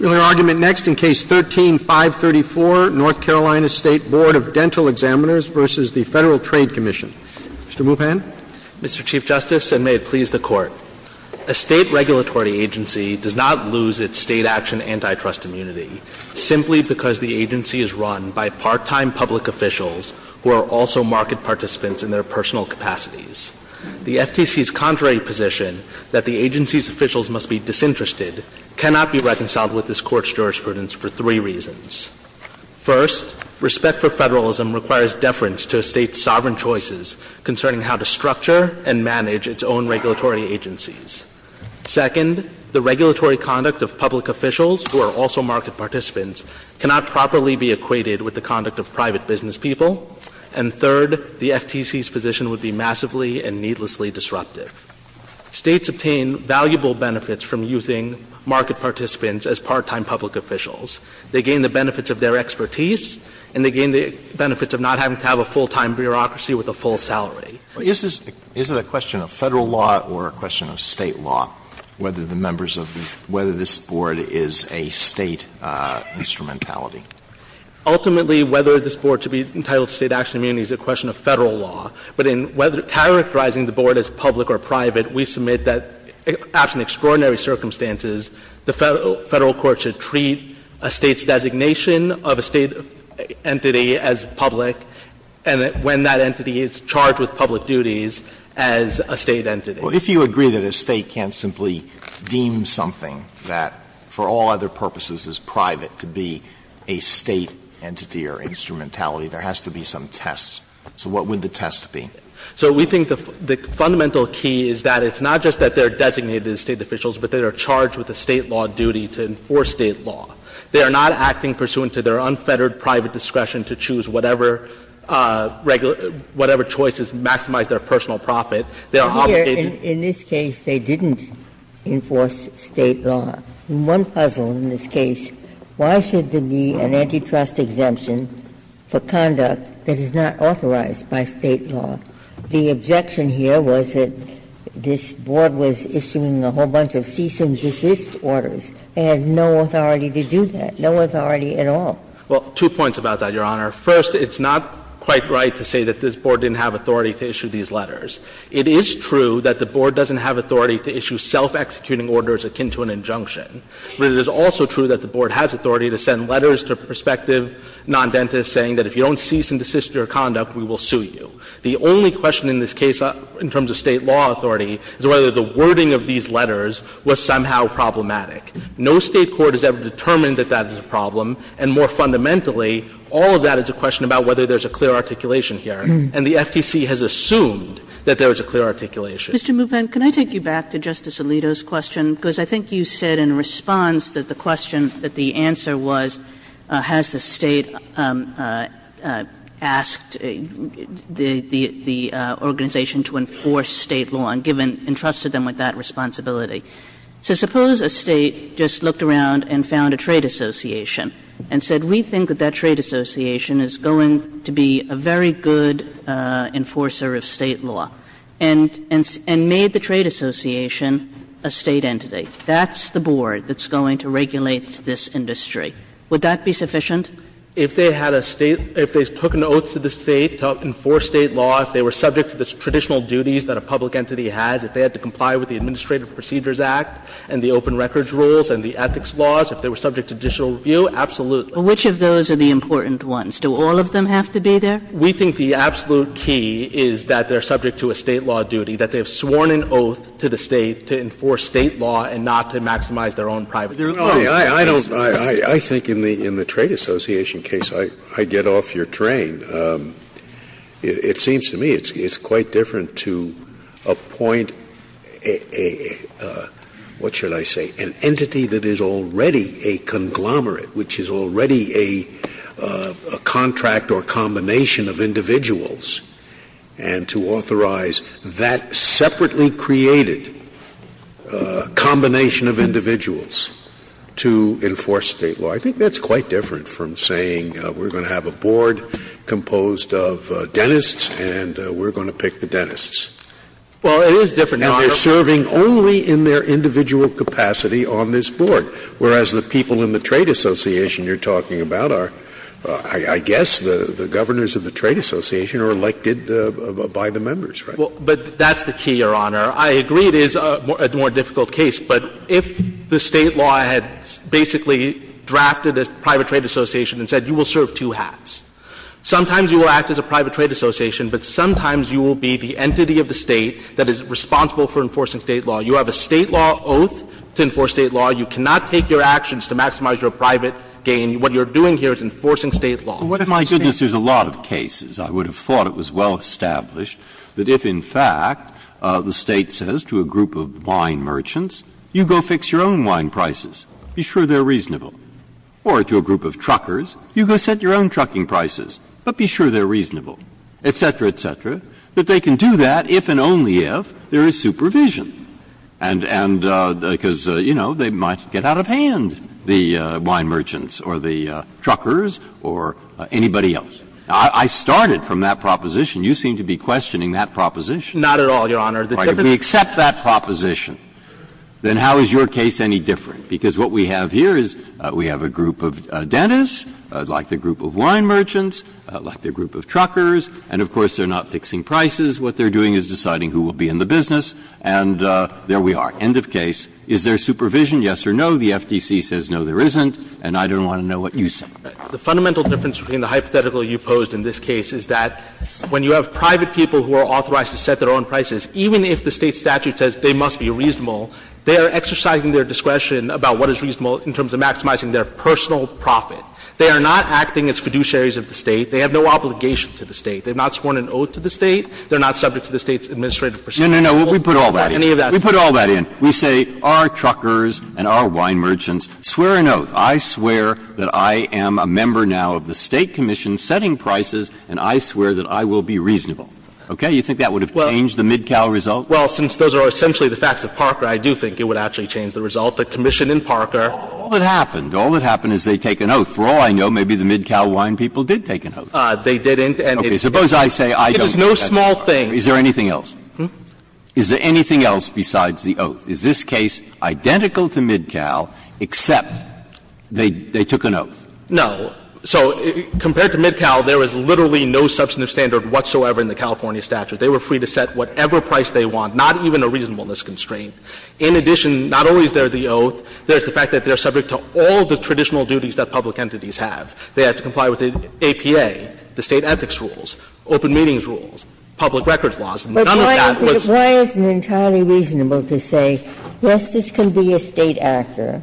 We will hear argument next in Case 13-534, North Carolina State Bd. of Dental Examiners v. the Federal Trade Commission. Mr. Mupan. Mr. Chief Justice, and may it please the Court, a State regulatory agency does not lose its State action antitrust immunity simply because the agency is run by part-time public officials who are also market participants in their personal capacities. The FTC's contrary position that the agency's officials must be disinterested cannot be reconciled with this Court's jurisprudence for three reasons. First, respect for federalism requires deference to a State's sovereign choices concerning how to structure and manage its own regulatory agencies. Second, the regulatory conduct of public officials, who are also market participants, cannot properly be equated with the conduct of private business people. And third, the FTC's position would be massively and needlessly disruptive. States obtain valuable benefits from using market participants as part-time public officials. They gain the benefits of their expertise, and they gain the benefits of not having to have a full-time bureaucracy with a full salary. Alito Is it a question of Federal law or a question of State law, whether the members of the — whether this Board is a State instrumentality? Ultimately, whether this Board should be entitled to State action immunity is a question of Federal law. But in whether — characterizing the Board as public or private, we submit that, absent extraordinary circumstances, the Federal court should treat a State's designation of a State entity as public, and that when that entity is charged with public duties, as a State entity. Well, if you agree that a State can't simply deem something that, for all other purposes, is private to be a State entity or instrumentality, there has to be some test. So what would the test be? So we think the fundamental key is that it's not just that they're designated as State officials, but they are charged with a State law duty to enforce State law. They are not acting pursuant to their unfettered private discretion to choose whatever regular — whatever choices maximize their personal profit. They are obligated to do that. Ginsburg. In one puzzle in this case, why should there be an antitrust exemption for conduct that is not authorized by State law? The objection here was that this Board was issuing a whole bunch of cease and desist orders. They had no authority to do that, no authority at all. Well, two points about that, Your Honor. First, it's not quite right to say that this Board didn't have authority to issue these letters. It is true that the Board doesn't have authority to issue self-executing orders akin to an injunction. But it is also true that the Board has authority to send letters to prospective non-dentists saying that if you don't cease and desist your conduct, we will sue you. The only question in this case in terms of State law authority is whether the wording of these letters was somehow problematic. No State court has ever determined that that is a problem, and more fundamentally, all of that is a question about whether there's a clear articulation here, and the FTC has assumed that there is a clear articulation. Kagan. And Mr. Muven, can I take you back to Justice Alito's question? Because I think you said in response that the question, that the answer was has the State asked the organization to enforce State law, and given, entrusted them with that responsibility. So suppose a State just looked around and found a trade association and said we think that that trade association is going to be a very good enforcer of State law. And made the trade association a State entity. That's the board that's going to regulate this industry. Would that be sufficient? If they had a State – if they took an oath to the State to enforce State law, if they were subject to the traditional duties that a public entity has, if they had to comply with the Administrative Procedures Act and the open records rules and the ethics laws, if they were subject to judicial review, absolutely. Which of those are the important ones? Do all of them have to be there? We think the absolute key is that they're subject to a State law duty, that they have sworn an oath to the State to enforce State law and not to maximize their own private interests. Scalia. I don't – I think in the trade association case, I get off your train. It seems to me it's quite different to appoint a – what should I say? An entity that is already a conglomerate, which is already a contract or combination of individuals, and to authorize that separately created combination of individuals to enforce State law. I think that's quite different from saying we're going to have a board composed of dentists and we're going to pick the dentists. Well, it is different, Your Honor. And they're serving only in their individual capacity on this board, whereas the people in the trade association you're talking about are, I guess, the governors of the trade association are elected by the members, right? Well, but that's the key, Your Honor. I agree it is a more difficult case, but if the State law had basically drafted a private trade association and said you will serve two hats, sometimes you will act as a private trade association, but sometimes you will be the entity of the State that is responsible for enforcing State law. You have a State law oath to enforce State law. You cannot take your actions to maximize your private gain. What you're doing here is enforcing State law. Breyer. What if, my goodness, there's a lot of cases, I would have thought it was well established, that if, in fact, the State says to a group of wine merchants, you go fix your own wine prices, be sure they're reasonable, or to a group of truckers, you go set your own trucking prices, but be sure they're reasonable, et cetera, et cetera, that they can do that if and only if there is supervision. And because, you know, they might get out of hand, the wine merchants or the truckers or anybody else. I started from that proposition. You seem to be questioning that proposition. Not at all, Your Honor. If we accept that proposition, then how is your case any different? Because what we have here is we have a group of dentists, like the group of wine merchants, like the group of truckers, and, of course, they're not fixing prices, what they're doing is deciding who will be in the business, and there we are. End of case. Is there supervision? Yes or no? The FTC says no, there isn't, and I don't want to know what you say. The fundamental difference between the hypothetical you posed in this case is that when you have private people who are authorized to set their own prices, even if the State statute says they must be reasonable, they are exercising their discretion about what is reasonable in terms of maximizing their personal profit. They are not acting as fiduciaries of the State. They have no obligation to the State. They have not sworn an oath to the State. They are not subject to the State's administrative procedure. No, no, no. We put all that in. We put all that in. We say our truckers and our wine merchants swear an oath. I swear that I am a member now of the State commission setting prices, and I swear that I will be reasonable. Okay? You think that would have changed the MidCal result? Well, since those are essentially the facts of Parker, I do think it would actually change the result. The commission in Parker. All that happened, all that happened is they take an oath. For all I know, maybe the MidCal wine people did take an oath. They didn't, and it is no small thing. Is there anything else? Is there anything else besides the oath? Is this case identical to MidCal, except they took an oath? No. So compared to MidCal, there is literally no substantive standard whatsoever in the California statute. They were free to set whatever price they want, not even a reasonableness constraint. In addition, not only is there the oath, there is the fact that they are subject to all the traditional duties that public entities have. They have to comply with the APA, the State ethics rules, open meetings rules, public records laws, and none of that was. But why isn't it entirely reasonable to say, yes, this can be a State actor,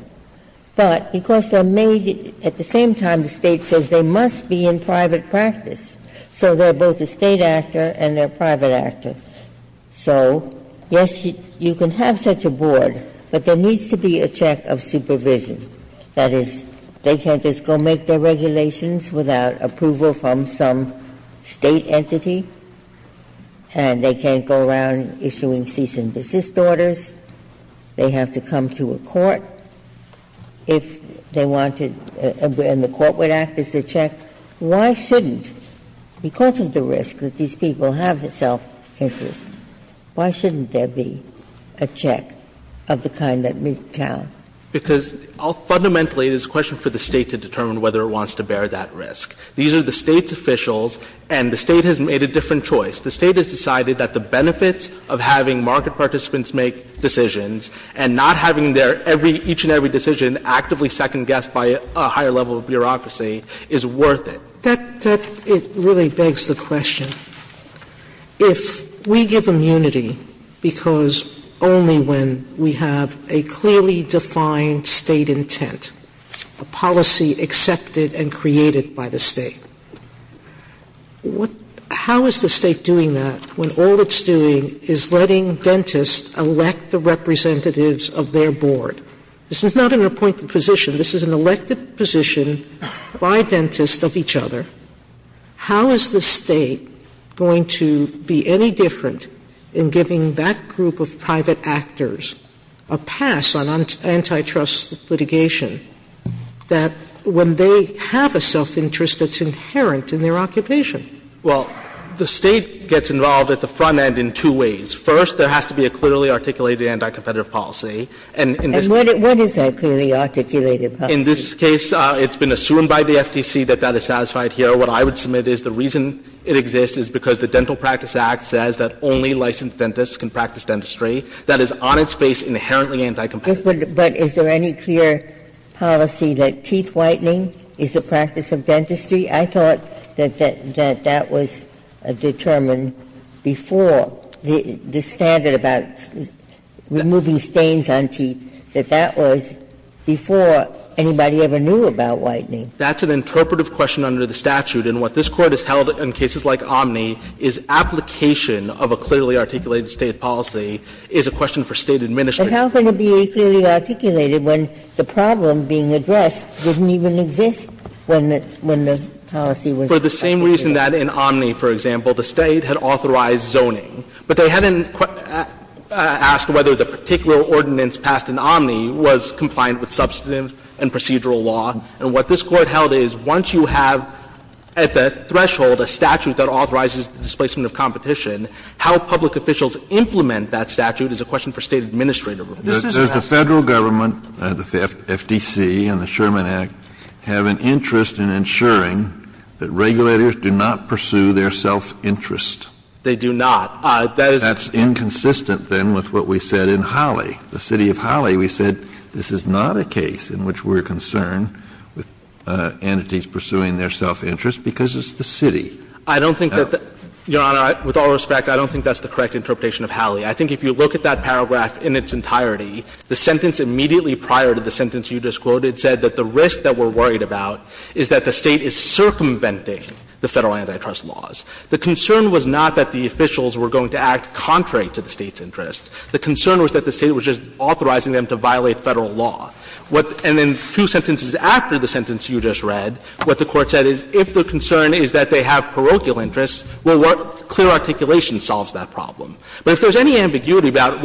but because they are made at the same time the State says they must be in private practice, so they are both a State actor and they are a private actor. So, yes, you can have such a board, but there needs to be a check of supervision. That is, they can't just go make their regulations without approval from some State entity, and they can't go around issuing cease and desist orders. They have to come to a court if they want to, and the Court would act as a check. Why shouldn't, because of the risk that these people have of self-interest, why shouldn't there be a check of the kind that MidCal? Because fundamentally it is a question for the State to determine whether it wants to bear that risk. These are the State's officials, and the State has made a different choice. The State has decided that the benefits of having market participants make decisions and not having their every — each and every decision actively second-guessed by a higher level of bureaucracy is worth it. Sotomayor, it really begs the question, if we give immunity because only when we have a clearly defined State intent, a policy accepted and created by the State, how is the State doing that when all it's doing is letting dentists elect the representatives of their board? This is not an appointed position. This is an elected position by dentists of each other. How is the State going to be any different in giving that group of private actors a pass on antitrust litigation that when they have a self-interest that's inherent in their occupation? Well, the State gets involved at the front end in two ways. First, there has to be a clearly articulated anti-competitive policy. And in this case — And what is that clearly articulated policy? In this case, it's been assumed by the FTC that that is satisfied here. What I would submit is the reason it exists is because the Dental Practice Act says that only licensed dentists can practice dentistry. That is on its face inherently anti-competitive. But is there any clear policy that teeth whitening is the practice of dentistry? I thought that that was determined before the standard about removing stains on teeth, that that was before anybody ever knew about whitening. That's an interpretive question under the statute. And what this Court has held in cases like Omni is application of a clearly articulated State policy is a question for State administration. But how can it be clearly articulated when the problem being addressed didn't even exist when the policy was articulated? For the same reason that in Omni, for example, the State had authorized zoning. But they hadn't asked whether the particular ordinance passed in Omni was confined with substantive and procedural law. And what this Court held is once you have at that threshold a statute that authorizes the displacement of competition, how public officials implement that statute is a question for State administrative review. Kennedy, this isn't a question for State administrative review. Kennedy, does the Federal Government, the FTC and the Sherman Act, have an interest in ensuring that regulators do not pursue their self-interest? They do not. That is inconsistent, then, with what we said in Holly. The City of Holly, we said this is not a case in which we're concerned with entities pursuing their self-interest because it's the City. I don't think that the Your Honor, with all respect, I don't think that's the correct interpretation of Holly. I think if you look at that paragraph in its entirety, the sentence immediately prior to the sentence you just quoted said that the risk that we're worried about is that the State is circumventing the Federal antitrust laws. The concern was not that the officials were going to act contrary to the State's own interests, it was just authorizing them to violate Federal law. And then two sentences after the sentence you just read, what the Court said is if the concern is that they have parochial interests, well, what clear articulation solves that problem. But if there's any ambiguity about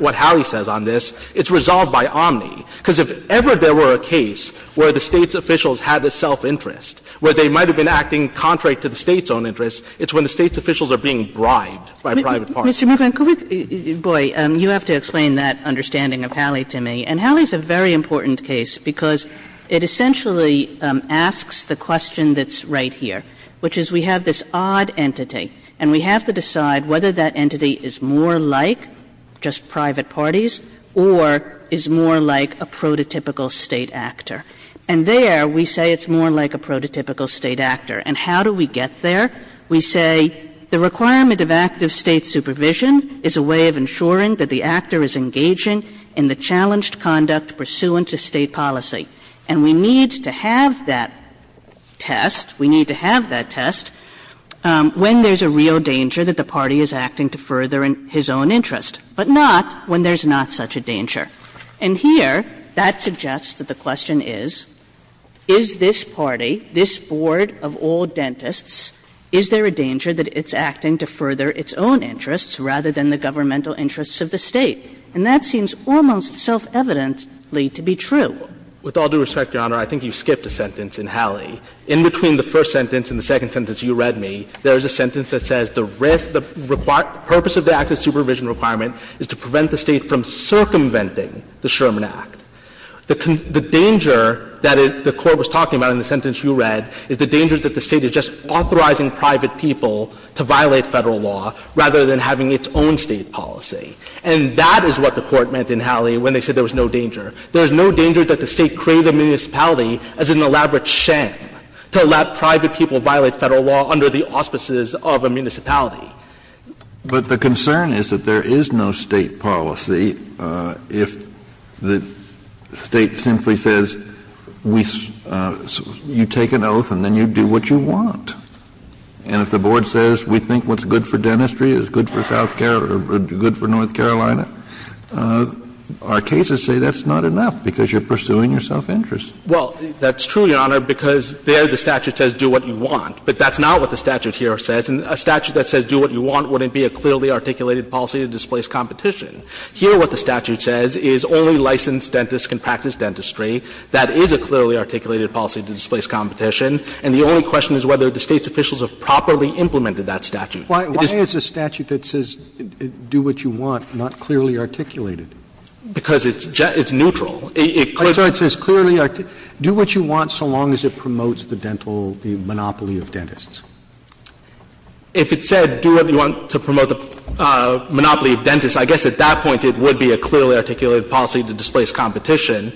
what Holly says on this, it's resolved by Omni. Because if ever there were a case where the State's officials had a self-interest, where they might have been acting contrary to the State's own interests, it's when the State's officials are being bribed by private parties. Kagan. Ms. Kagan, you have to explain that understanding of Holly to me. And Holly is a very important case because it essentially asks the question that's right here, which is we have this odd entity and we have to decide whether that entity is more like just private parties, or is more like a prototypical State actor. And there we say it's more like a prototypical State actor. And how do we get there? We say the requirement of active State supervision is a way of ensuring that the actor is engaging in the challenged conduct pursuant to State policy. And we need to have that test, we need to have that test, when there's a real danger that the party is acting to further his own interest, but not when there's not such a danger. And here that suggests that the question is, is this party, this board of all dentists, is there a danger that it's acting to further its own interests rather than the governmental interests of the State? And that seems almost self-evidently to be true. With all due respect, Your Honor, I think you skipped a sentence in Holly. In between the first sentence and the second sentence you read me, there is a sentence that says the risk, the purpose of the active supervision requirement is to prevent the State from circumventing the Sherman Act. The danger that the Court was talking about in the sentence you read is the danger that the State is just authorizing private people to violate Federal law rather than having its own State policy. And that is what the Court meant in Holly when they said there was no danger. There is no danger that the State created a municipality as an elaborate sham to allow private people to violate Federal law under the auspices of a municipality. Kennedy. But the concern is that there is no State policy if the State simply says we — you take an oath and then you do what you want. And if the Board says we think what's good for dentistry is good for South Carolina or good for North Carolina, our cases say that's not enough because you're pursuing your self-interest. Well, that's true, Your Honor, because there the statute says do what you want. But that's not what the statute here says. And a statute that says do what you want wouldn't be a clearly articulated policy to displace competition. Here what the statute says is only licensed dentists can practice dentistry. That is a clearly articulated policy to displace competition. And the only question is whether the State's officials have properly implemented It is — Roberts Why is a statute that says do what you want not clearly articulated? Because it's neutral. It clearly — I'm sorry. It says clearly — do what you want so long as it promotes the dental — the monopoly of dentists. If it said do what you want to promote the monopoly of dentists, I guess at that point it would be a clearly articulated policy to displace competition.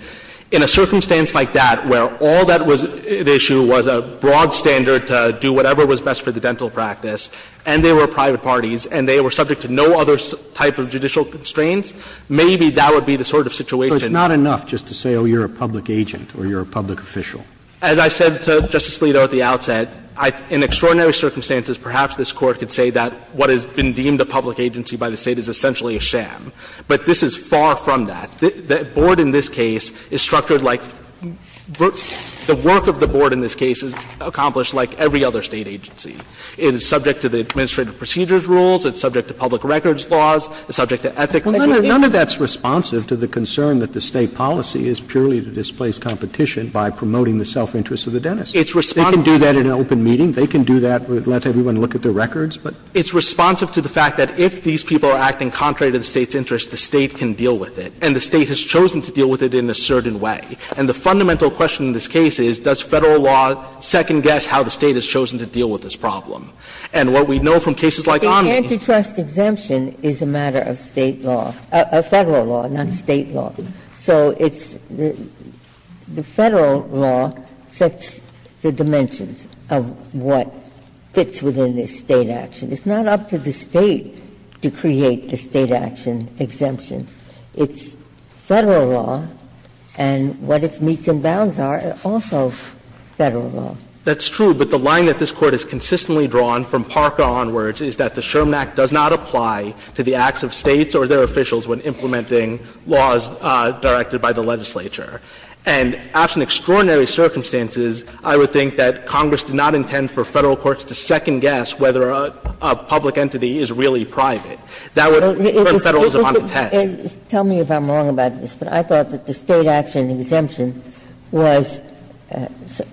In a circumstance like that, where all that was at issue was a broad standard to do whatever was best for the dental practice, and they were private parties, and they were subject to no other type of judicial constraints, maybe that would be the sort of situation — So it's not enough just to say, oh, you're a public agent or you're a public official? As I said to Justice Alito at the outset, in extraordinary circumstances, perhaps this Court could say that what has been deemed a public agency by the State is essentially a sham. But this is far from that. The board in this case is structured like — the work of the board in this case is accomplished like every other State agency. It is subject to the administrative procedures rules. It's subject to public records laws. It's subject to ethics. None of that's responsive to the concern that the State policy is purely to displace competition by promoting the self-interests of the dentists. They can do that in an open meeting. They can do that, let everyone look at their records, but — It's responsive to the fact that if these people are acting contrary to the State's principles, then the State has chosen to deal with it in a certain way. And the fundamental question in this case is, does Federal law second-guess how the State has chosen to deal with this problem? And what we know from cases like Omni — The antitrust exemption is a matter of State law — of Federal law, not State law. So it's — the Federal law sets the dimensions of what fits within this State action. It's not up to the State to create the State action exemption. It's Federal law, and what its meets and bounds are are also Federal law. That's true, but the line that this Court has consistently drawn from Parker onwards is that the Sherman Act does not apply to the acts of States or their officials when implementing laws directed by the legislature. And absent extraordinary circumstances, I would think that Congress did not intend for Federal courts to second-guess whether a public entity is really private. That would put Federalism on the test. Ginsburg. And tell me if I'm wrong about this, but I thought that the State action exemption was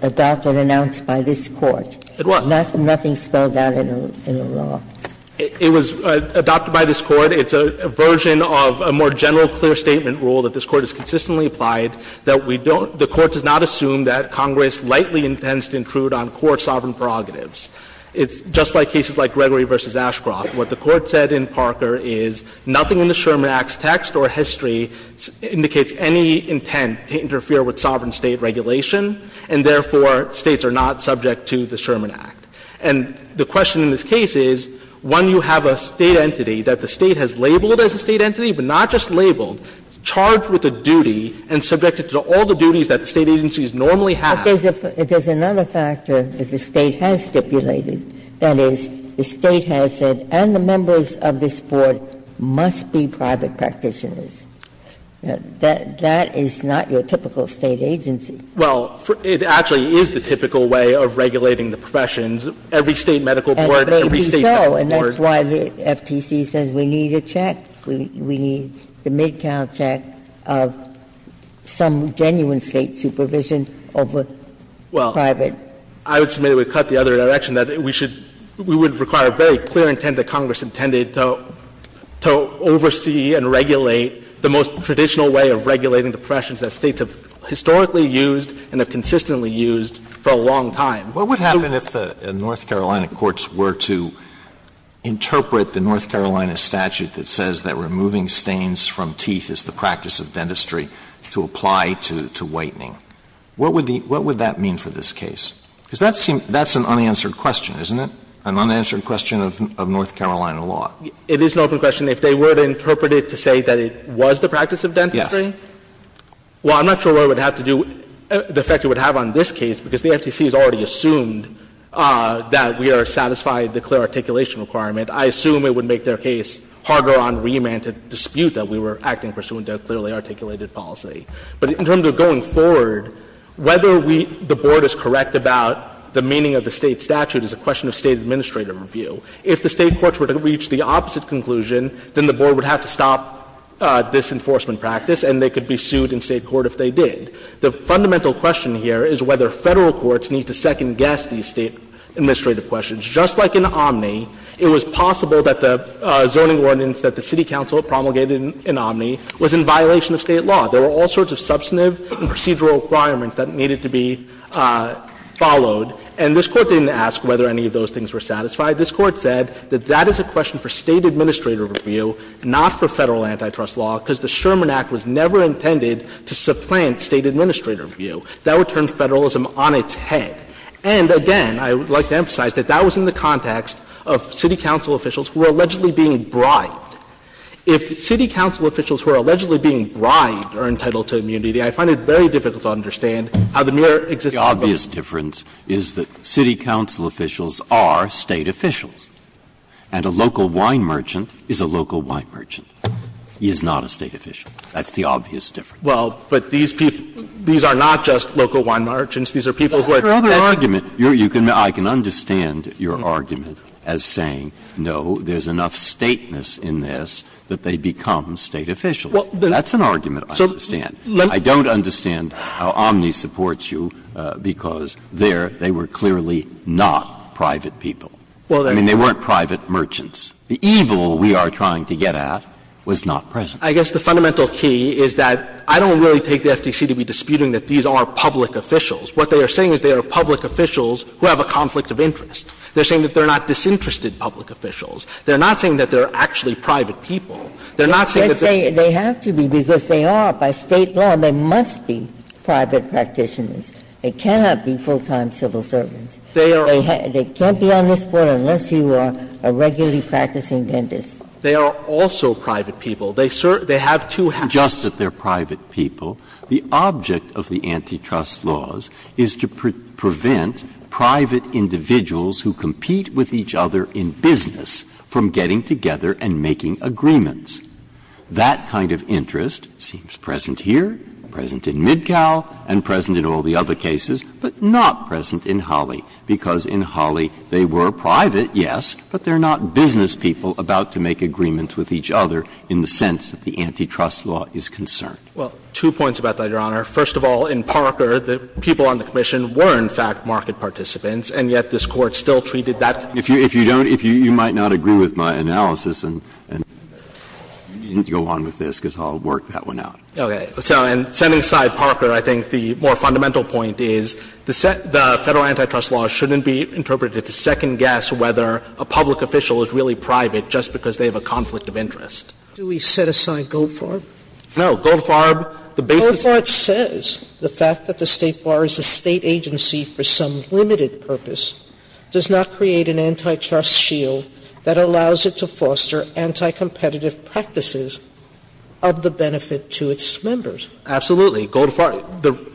adopted and announced by this Court. It was. Nothing spelled out in the law. It was adopted by this Court. It's a version of a more general, clear statement rule that this Court has consistently applied, that we don't — the Court does not assume that Congress lightly intends to intrude on court sovereign prerogatives. It's just like cases like Gregory v. Ashcroft. What the Court said in Parker is nothing in the Sherman Act's text or history indicates any intent to interfere with sovereign State regulation, and therefore States are not subject to the Sherman Act. And the question in this case is, one, you have a State entity that the State has labeled as a State entity, but not just labeled, charged with a duty and subjected to all the duties that State agencies normally have. Ginsburg. There's another factor that the State has stipulated, that is, the State has said, and the members of this Board, must be private practitioners. That is not your typical State agency. Well, it actually is the typical way of regulating the professions. Every State medical board, every State medical board. And it may be so, and that's why the FTC says we need a check, we need the mid-count check of some genuine State supervision over private. Well, I would submit it would cut the other direction, that we should we would require a very clear intent that Congress intended to oversee and regulate the most traditional way of regulating the professions that States have historically used and have consistently used for a long time. What would happen if the North Carolina courts were to interpret the North Carolina statute that says that removing stains from teeth is the practice of dentistry to apply to whitening? What would the what would that mean for this case? Because that seems that's an unanswered question, isn't it? An unanswered question of North Carolina law. It is an open question. If they were to interpret it to say that it was the practice of dentistry? Yes. Well, I'm not sure what it would have to do, the effect it would have on this case, because the FTC has already assumed that we are satisfied the clear articulation requirement. I assume it would make their case harder on remand to dispute that we were acting pursuant to a clearly articulated policy. But in terms of going forward, whether we the Board is correct about the meaning of the State statute is a question of State administrative review. If the State courts were to reach the opposite conclusion, then the Board would have to stop this enforcement practice, and they could be sued in State court if they did. The fundamental question here is whether Federal courts need to second-guess these State administrative questions. Just like in Omni, it was possible that the zoning ordinance that the city council promulgated in Omni was in violation of State law. There were all sorts of substantive and procedural requirements that needed to be followed. And this Court didn't ask whether any of those things were satisfied. This Court said that that is a question for State administrative review, not for Federal antitrust law, because the Sherman Act was never intended to supplant State administrative review. That would turn Federalism on its head. And again, I would like to emphasize that that was in the context of city council officials who were allegedly being bribed. If city council officials who are allegedly being bribed are entitled to immunity, I find it very difficult to understand how the mere existence of the law. Breyer's difference is that city council officials are State officials, and a local wine merchant is a local wine merchant. He is not a State official. That's the obvious difference. Well, but these people, these are not just local wine merchants. These are people who are federal. Breyer's other argument, I can understand your argument as saying, no, there is enough Stateness in this that they become State officials. That's an argument I understand. I don't understand how Omni supports you, because there they were clearly not private people. I mean, they weren't private merchants. The evil we are trying to get at was not present. I guess the fundamental key is that I don't really take the FTC to be disputing that these are public officials. What they are saying is they are public officials who have a conflict of interest. They are saying that they are not disinterested public officials. They are not saying that they are actually private people. They are not saying that they are private people. They have to be, because they are. By State law, they must be private practitioners. They cannot be full-time civil servants. They can't be on this Board unless you are a regularly practicing dentist. They are also private people. They have two halves. It's not just that they are private people. The object of the antitrust laws is to prevent private individuals who compete with each other in business from getting together and making agreements. That kind of interest seems present here, present in Midcall, and present in all the other cases, but not present in Holly, because in Holly they were private, yes, but they are not business people about to make agreements with each other in the sense that the antitrust law is concerned. Well, two points about that, Your Honor. First of all, in Parker, the people on the commission were in fact market participants, and yet this Court still treated that. If you don't, you might not agree with my analysis, and you need to go on with this, because I'll work that one out. Okay. So, and setting aside Parker, I think the more fundamental point is the Federal antitrust law shouldn't be interpreted to second-guess whether a public official is really private just because they have a conflict of interest. Sotomayor, do we set aside Goldfarb? No. Goldfarb, the basis of this case is that the Federal antitrust law should not be interpreted as a conflict of interest. Goldfarb says the fact that the State bars a State agency for some limited purpose does not create an antitrust shield that allows it to foster anticompetitive practices of the benefit to its members. Absolutely. Goldfarb.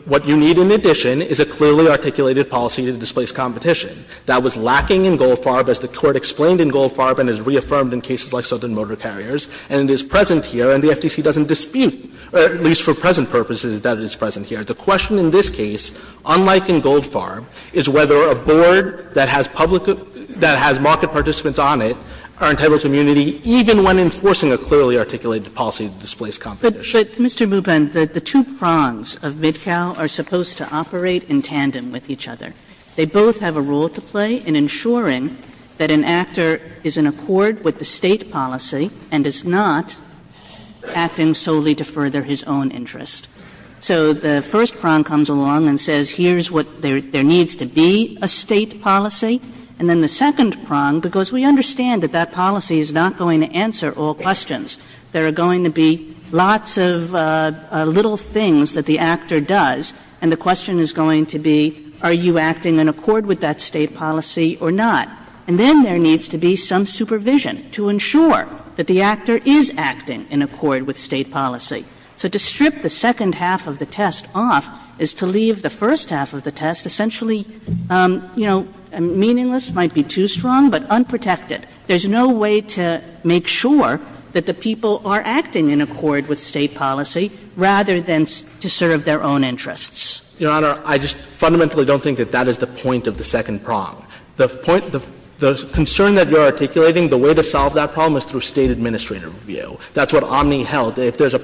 What you need in addition is a clearly articulated policy to displace competition. That was lacking in Goldfarb, as the Court explained in Goldfarb and has reaffirmed in cases like Southern Motor Carriers, and it is present here, and the FTC doesn't dispute, at least for present purposes, that it is present here. The question in this case, unlike in Goldfarb, is whether a board that has public that has market participants on it are entitled to immunity even when enforcing a clearly articulated policy to displace competition. But, Mr. Mubin, the two prongs of Midcow are supposed to operate in tandem with each other. They both have a role to play in ensuring that an actor is in accord with the State policy and is not acting solely to further his own interest. So the first prong comes along and says here's what there needs to be, a State policy, and then the second prong, because we understand that that policy is not going to answer all questions, there are going to be lots of little things that the actor does, and the question is going to be, are you acting in accord with that State policy or not? And then there needs to be some supervision to ensure that the actor is acting in accord with State policy. So to strip the second half of the test off is to leave the first half of the test essentially, you know, meaningless, might be too strong, but unprotected. There's no way to make sure that the people are acting in accord with State policy rather than to serve their own interests. Your Honor, I just fundamentally don't think that that is the point of the second prong. The point of the concern that you're articulating, the way to solve that problem is through State administrative review. That's what Omni held. If there's a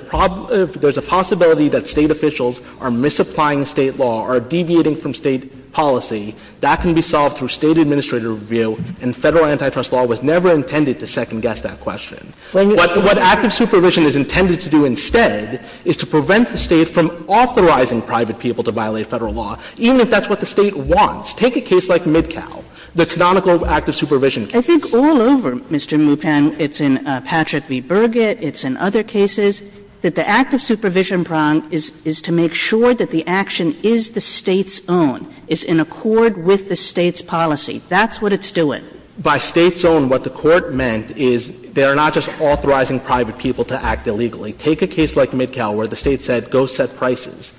possibility that State officials are misapplying State law or deviating from State policy, that can be solved through State administrative review, and Federal antitrust law was never intended to second-guess that question. What active supervision is intended to do instead is to prevent the State from authorizing private people to violate Federal law, even if that's what the State wants. Take a case like Midcow, the canonical active supervision case. Kagan. I think all over, Mr. Mupan, it's in Patrick v. Burgett, it's in other cases, that the active supervision prong is to make sure that the action is the State's own, is in accord with the State's policy. That's what it's doing. By State's own, what the Court meant is they are not just authorizing private people to act illegally. Take a case like Midcow where the State said go set prices.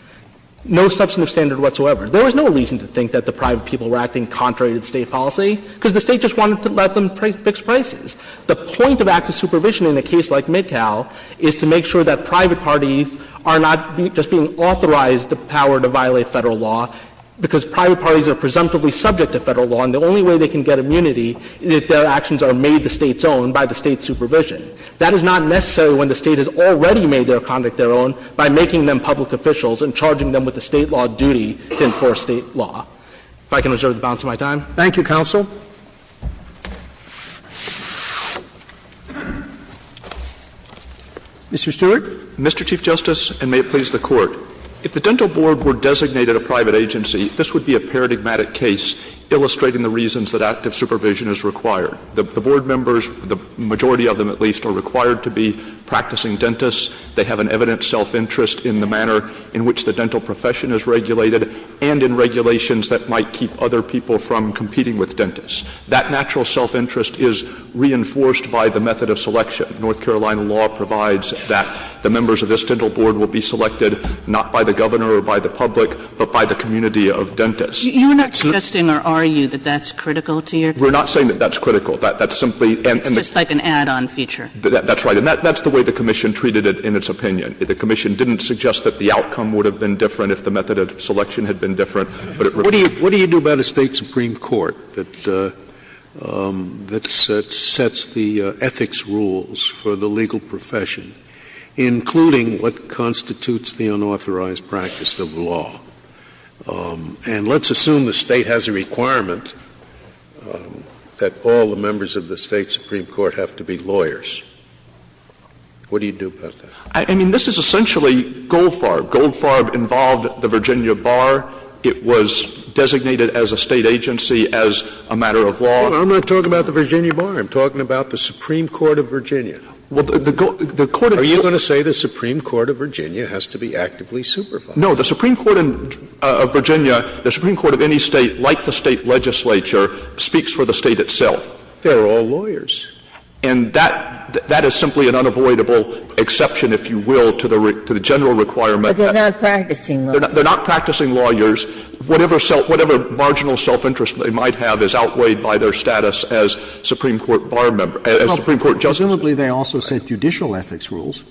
No substantive standard whatsoever. There was no reason to think that the private people were acting contrary to the State policy, because the State just wanted to let them fix prices. The point of active supervision in a case like Midcow is to make sure that private parties are not just being authorized the power to violate Federal law, because private parties are presumptively subject to Federal law, and the only way they can get immunity is if their actions are made the State's own by the State's supervision. That is not necessary when the State has already made their conduct their own by making them public officials and charging them with the State law duty to enforce State law. If I can reserve the balance of my time. Roberts. Thank you, counsel. Mr. Stewart. Mr. Chief Justice, and may it please the Court. If the dental board were designated a private agency, this would be a paradigmatic case illustrating the reasons that active supervision is required. The board members, the majority of them at least, are required to be practicing dentists. They have an evident self-interest in the manner in which the dental profession is regulated and in regulations that might keep other people from competing with dentists. That natural self-interest is reinforced by the method of selection. North Carolina law provides that the members of this dental board will be selected not by the governor or by the public, but by the community of dentists. Kagan. You're not suggesting or are you that that's critical to your case? Stewart. We're not saying that that's critical. That's simply and that's. It's just like an add-on feature. That's right. And that's the way the commission treated it in its opinion. The commission didn't suggest that the outcome would have been different if the method of selection had been different, but it. Scalia. What do you do about a State supreme court that sets the ethics rules for the legal profession, including what constitutes the unauthorized practice of law? And let's assume the State has a requirement that all the members of the State supreme court have to be lawyers. What do you do about that? I mean, this is essentially Goldfarb. Goldfarb involved the Virginia Bar. It was designated as a State agency as a matter of law. I'm not talking about the Virginia Bar. I'm talking about the Supreme Court of Virginia. Well, the Court of. Are you going to say the Supreme Court of Virginia has to be actively supervised? No. The Supreme Court of Virginia, the Supreme Court of any State, like the State legislature, speaks for the State itself. They're all lawyers. And that is simply an unavoidable exception, if you will, to the general requirement. But they're not practicing law. They're not practicing lawyers. Whatever self – whatever marginal self-interest they might have is outweighed by their status as Supreme Court Bar member – as Supreme Court justice. Well, presumably they also set judicial ethics rules.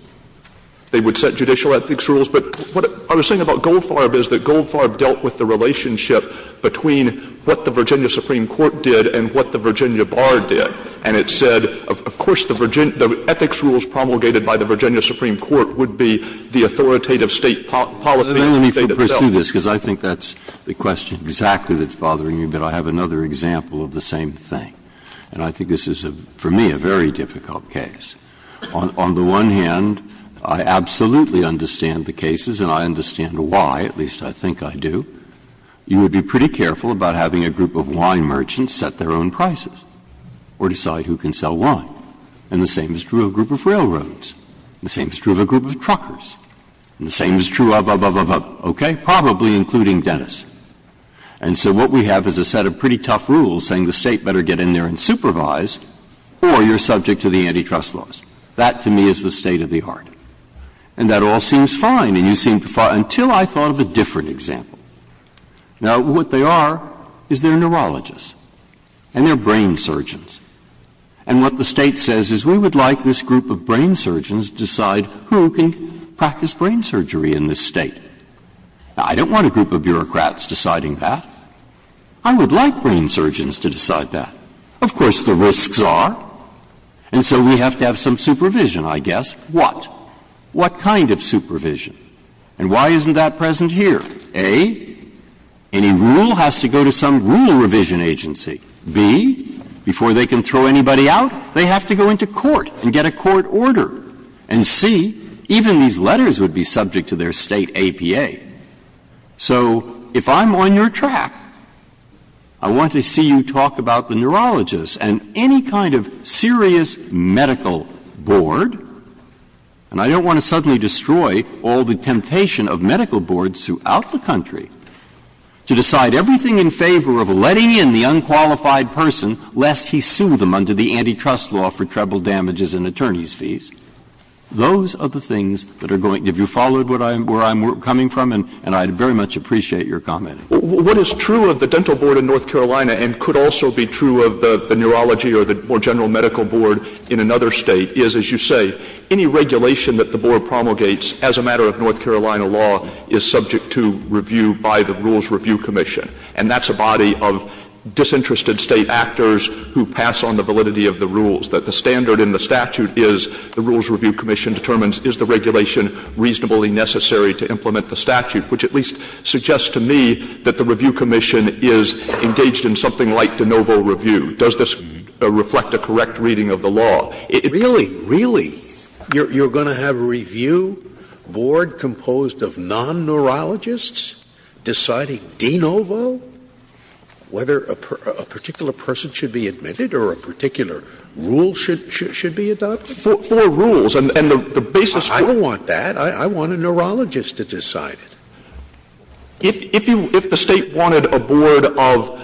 They would set judicial ethics rules. But what I was saying about Goldfarb is that Goldfarb dealt with the relationship between what the Virginia Supreme Court did and what the Virginia Bar did. And it said, of course, the ethics rules promulgated by the Virginia Supreme Court would be the authoritative State policy. Now, let me pursue this, because I think that's the question exactly that's bothering you. But I have another example of the same thing. And I think this is, for me, a very difficult case. On the one hand, I absolutely understand the cases, and I understand why. At least, I think I do. You would be pretty careful about having a group of wine merchants set their own prices or decide who can sell wine. And the same is true of a group of railroads. And the same is true of a group of truckers. And the same is true of, of, of, of, okay, probably including dentists. And so what we have is a set of pretty tough rules saying the State better get in there and supervise, or you're subject to the antitrust laws. That, to me, is the state of the art. And that all seems fine, and you seem to find it, until I thought of a different example. Now, what they are is they're neurologists, and they're brain surgeons. And what the State says is, we would like this group of brain surgeons to decide who can practice brain surgery in this State. Now, I don't want a group of bureaucrats deciding that. I would like brain surgeons to decide that. Of course, the risks are. And so we have to have some supervision, I guess. What? What kind of supervision? And why isn't that present here? A, any rule has to go to some rule revision agency. B, before they can throw anybody out, they have to go into court and get a court order. And C, even these letters would be subject to their State APA. So if I'm on your track, I want to see you talk about the neurologists and any kind of serious medical board, and I don't want to suddenly destroy all the temptation of medical boards throughout the country, to decide everything in favor of letting in the unqualified person lest he sue them under the antitrust law for treble damages and attorney's fees. Those are the things that are going to — have you followed where I'm coming from? And I very much appreciate your comment. What is true of the dental board in North Carolina and could also be true of the neurology or the more general medical board in another State is, as you say, any regulation that the board promulgates as a matter of North Carolina law is subject to review by the Rules Review Commission. And that's a body of disinterested State actors who pass on the validity of the rules, that the standard in the statute is the Rules Review Commission determines is the regulation reasonably necessary to implement the statute, which at least suggests to me that the Review Commission is engaged in something like de novo review. Does this reflect a correct reading of the law? Really, really, you're going to have a review board composed of non-neurologists deciding de novo whether a particular person should be admitted or a particular rule should be adopted? For rules. And the basis for that — I don't want that. I want a neurologist to decide it. If you — if the State wanted a board of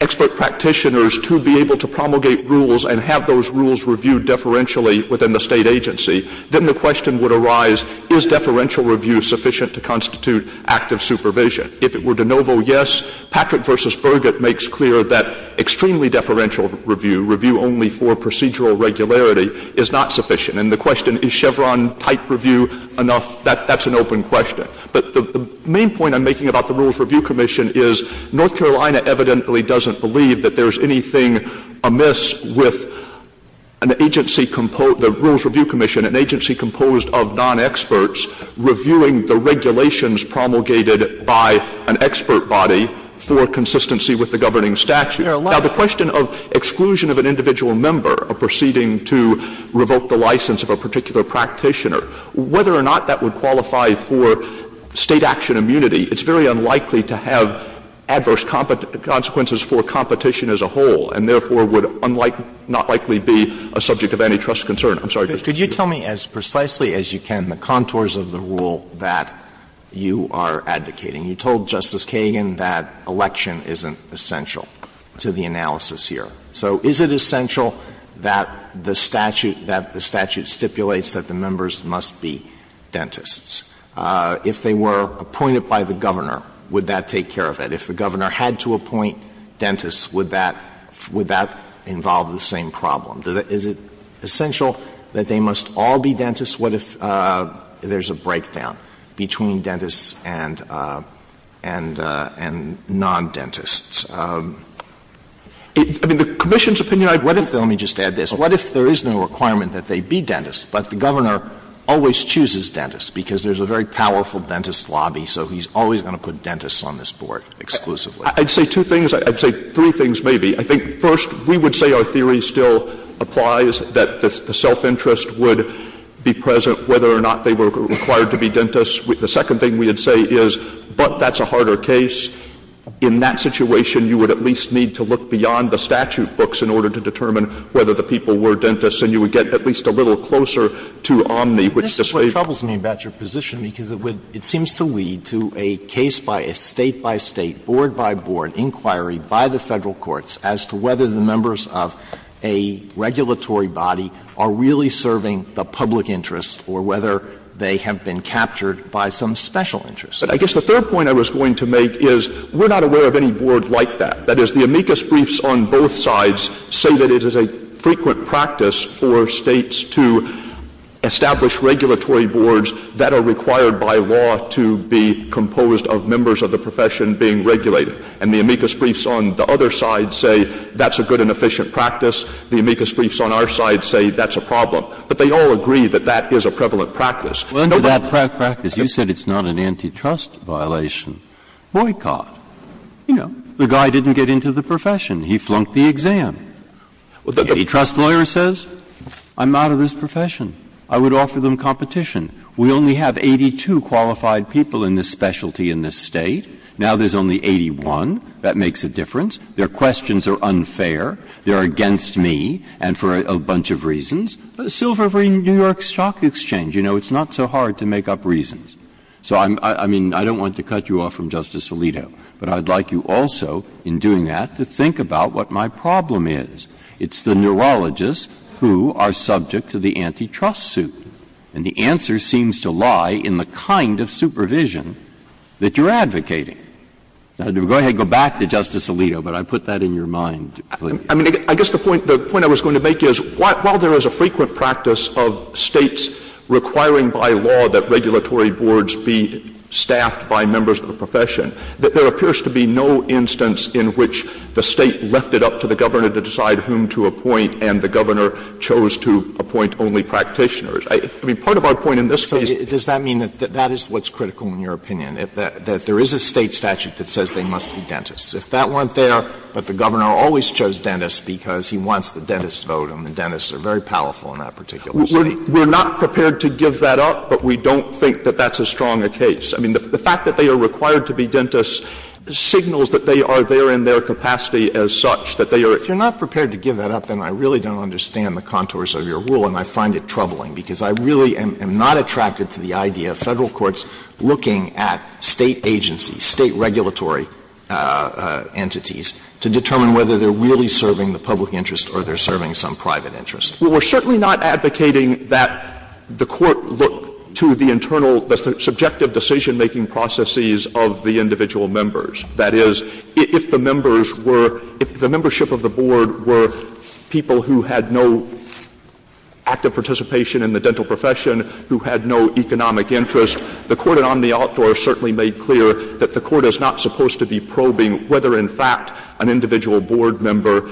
expert practitioners to be able to promulgate rules and have those rules reviewed deferentially within the State agency, then the question would arise, is deferential review sufficient to constitute active supervision? If it were de novo, yes. Patrick v. Burgett makes clear that extremely deferential review, review only for procedural regularity, is not sufficient. And the question, is Chevron-type review enough, that's an open question. But the main point I'm making about the Rules Review Commission is North Carolina evidently doesn't believe that there's anything amiss with an agency — the Rules Review Commission, an agency composed of non-experts reviewing the regulations promulgated by an expert body for consistency with the governing statute. Now, the question of exclusion of an individual member, a proceeding to revoke the license of a particular practitioner, whether or not that would qualify for State action immunity, it's very unlikely to have adverse consequences for competition as a whole, and therefore would not likely be a subject of antitrust concern. I'm sorry, Mr. Chief Justice. Alito, could you tell me as precisely as you can the contours of the rule that you are advocating? You told Justice Kagan that election isn't essential to the analysis here. So is it essential that the statute — that the statute stipulates that the members must be dentists? If they were appointed by the governor, would that take care of it? If the governor had to appoint dentists, would that — would that involve the same problem? Is it essential that they must all be dentists? What if there's a breakdown between dentists and — and non-dentists? I mean, the commission's opinion, I think — What if — let me just add this. What if there is no requirement that they be dentists, but the governor always chooses dentists because there's a very powerful dentist lobby, so he's always going to put dentists on this board exclusively? I'd say two things. I'd say three things, maybe. I think, first, we would say our theory still applies, that the self-interest would be present whether or not they were required to be dentists. The second thing we would say is, but that's a harder case. In that situation, you would at least need to look beyond the statute books in order to determine whether the people were dentists, and you would get at least a little closer to omni, which is a — But this is what troubles me about your position, because it would — it seems to lead to a case by a State-by-State, board-by-board inquiry by the Federal courts as to whether the members of a regulatory body are really serving the public interest or whether they have been captured by some special interest. But I guess the third point I was going to make is we're not aware of any board like that. That is, the amicus briefs on both sides say that it is a frequent practice for States to establish regulatory boards that are required by law to be composed of members of the profession being regulated. And the amicus briefs on the other side say that's a good and efficient practice. The amicus briefs on our side say that's a problem. But they all agree that that is a prevalent practice. No one — Well, under that practice, you said it's not an antitrust violation. Boycott. You know, the guy didn't get into the profession. Antitrust lawyer says, I'm out of the profession. I'm out of this profession. I would offer them competition. We only have 82 qualified people in this specialty in this State. Now there's only 81. That makes a difference. Their questions are unfair. They're against me, and for a bunch of reasons. Silver v. New York Stock Exchange, you know, it's not so hard to make up reasons. So I'm — I mean, I don't want to cut you off from Justice Alito, but I'd like you also, in doing that, to think about what my problem is. It's the neurologists who are subject to the antitrust suit. And the answer seems to lie in the kind of supervision that you're advocating. Now, go ahead, go back to Justice Alito, but I put that in your mind. I mean, I guess the point — the point I was going to make is, while there is a frequent practice of States requiring by law that regulatory boards be staffed by members of the profession, there appears to be no instance in which the State left it up to the Governor to decide whom to appoint, and the Governor chose to appoint only practitioners. I mean, part of our point in this case — So does that mean that that is what's critical, in your opinion, that there is a State statute that says they must be dentists? If that weren't there, but the Governor always chose dentists because he wants the dentists to vote, and the dentists are very powerful in that particular State. We're not prepared to give that up, but we don't think that that's as strong a case. I mean, the fact that they are required to be dentists signals that they are there in their capacity as such, that they are — If you're not prepared to give that up, then I really don't understand the contours of your rule, and I find it troubling, because I really am not attracted to the idea of Federal courts looking at State agencies, State regulatory entities, to determine whether they're really serving the public interest or they're serving some private interest. Well, we're certainly not advocating that the court look to the internal — the subjective decision-making processes of the individual members. That is, if the members were — if the membership of the board were people who had no active participation in the dental profession, who had no economic interest, the court at Omni Outdoor certainly made clear that the court is not supposed to be probing whether, in fact, an individual board member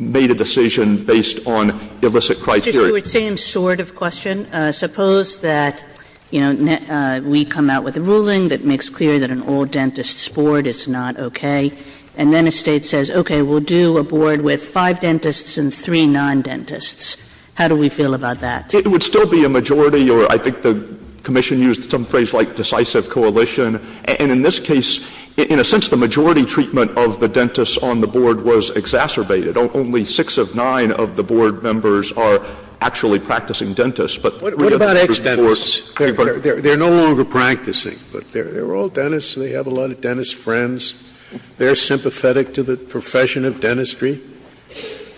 made a decision based on illicit criteria. Sotomayor, same sort of question. Suppose that, you know, we come out with a ruling that makes clear that an all-dentist board is not okay, and then a State says, okay, we'll do a board with five dentists and three non-dentists. How do we feel about that? It would still be a majority, or I think the commission used some phrase like decisive coalition. And in this case, in a sense, the majority treatment of the dentists on the board was exacerbated. Only six of nine of the board members are actually practicing dentists, but the other members report — What about ex-dentists? They're no longer practicing, but they're all dentists. So they have a lot of dentist friends. They're sympathetic to the profession of dentistry.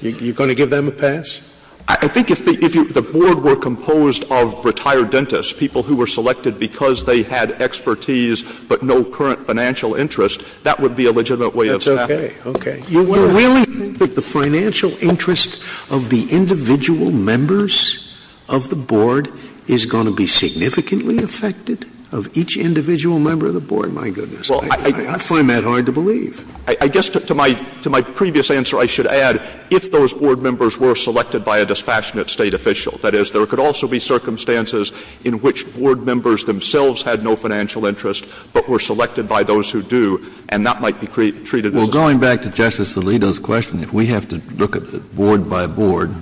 You're going to give them a pass? I think if the board were composed of retired dentists, people who were selected because they had expertise but no current financial interest, that would be a legitimate way of saying it. That's okay. Okay. You really think that the financial interest of the individual members of the board is going to be significantly affected of each individual member of the board? My goodness, I find that hard to believe. I guess to my — to my previous answer, I should add, if those board members were selected by a dispassionate State official, that is, there could also be circumstances in which board members themselves had no financial interest, but were selected by those who do, and that might be treated as a — Well, going back to Justice Alito's question, if we have to look at it board by board,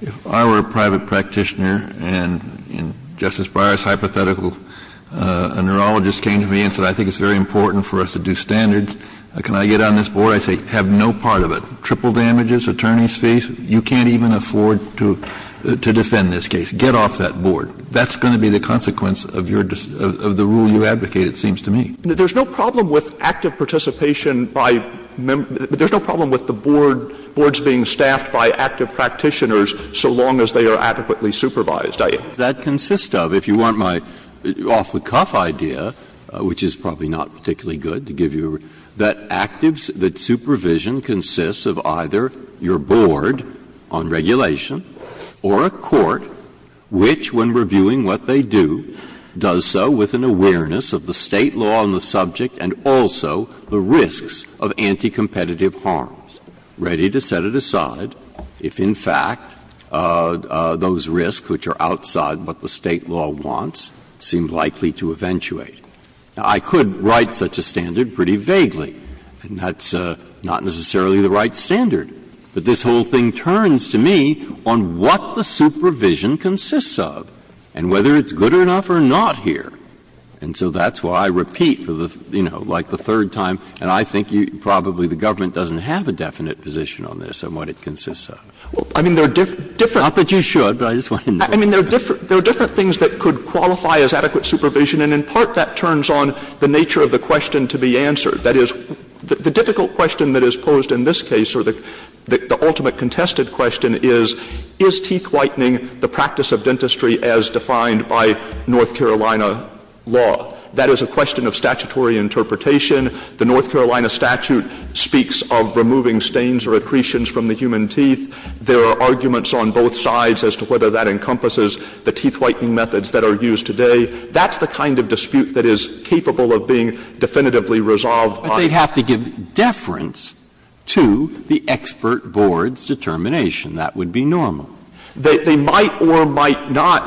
if I were a private practitioner and Justice Breyer's hypothetical, a neurologist came to me and said, I think it's very important for us to do standards, can I get on this board? I say, have no part of it. Triple damages, attorney's fees, you can't even afford to defend this case. Get off that board. That's going to be the consequence of your — of the rule you advocate, it seems to me. There's no problem with active participation by — there's no problem with the board — boards being staffed by active practitioners so long as they are adequately supervised. Breyer. That consists of, if you want my off-the-cuff idea, which is probably not particularly good to give you, that actives that supervision consists of either your board on regulation or a court which, when reviewing what they do, does so with an awareness of the State law on the subject and also the risks of anti-competitive harms, ready to set it aside if, in fact, those risks, which are outside what the State law wants, seem likely to eventuate. Now, I could write such a standard pretty vaguely, and that's not necessarily the right standard. But this whole thing turns to me on what the supervision consists of and whether it's good enough or not here. And so that's why I repeat for the, you know, like the third time, and I think you probably, the government doesn't have a definite position on this on what it consists of. I mean, there are different. Not that you should, but I just wanted to make sure. I mean, there are different things that could qualify as adequate supervision, and in part that turns on the nature of the question to be answered. That is, the difficult question that is posed in this case, or the ultimate contested question is, is teeth whitening the practice of dentistry as defined by North Carolina law? That is a question of statutory interpretation. The North Carolina statute speaks of removing stains or accretions from the human teeth. There are arguments on both sides as to whether that encompasses the teeth whitening methods that are used today. That's the kind of dispute that is capable of being definitively resolved by the State. Breyer. But they'd have to give deference to the expert board's determination. That would be normal. They might or might not.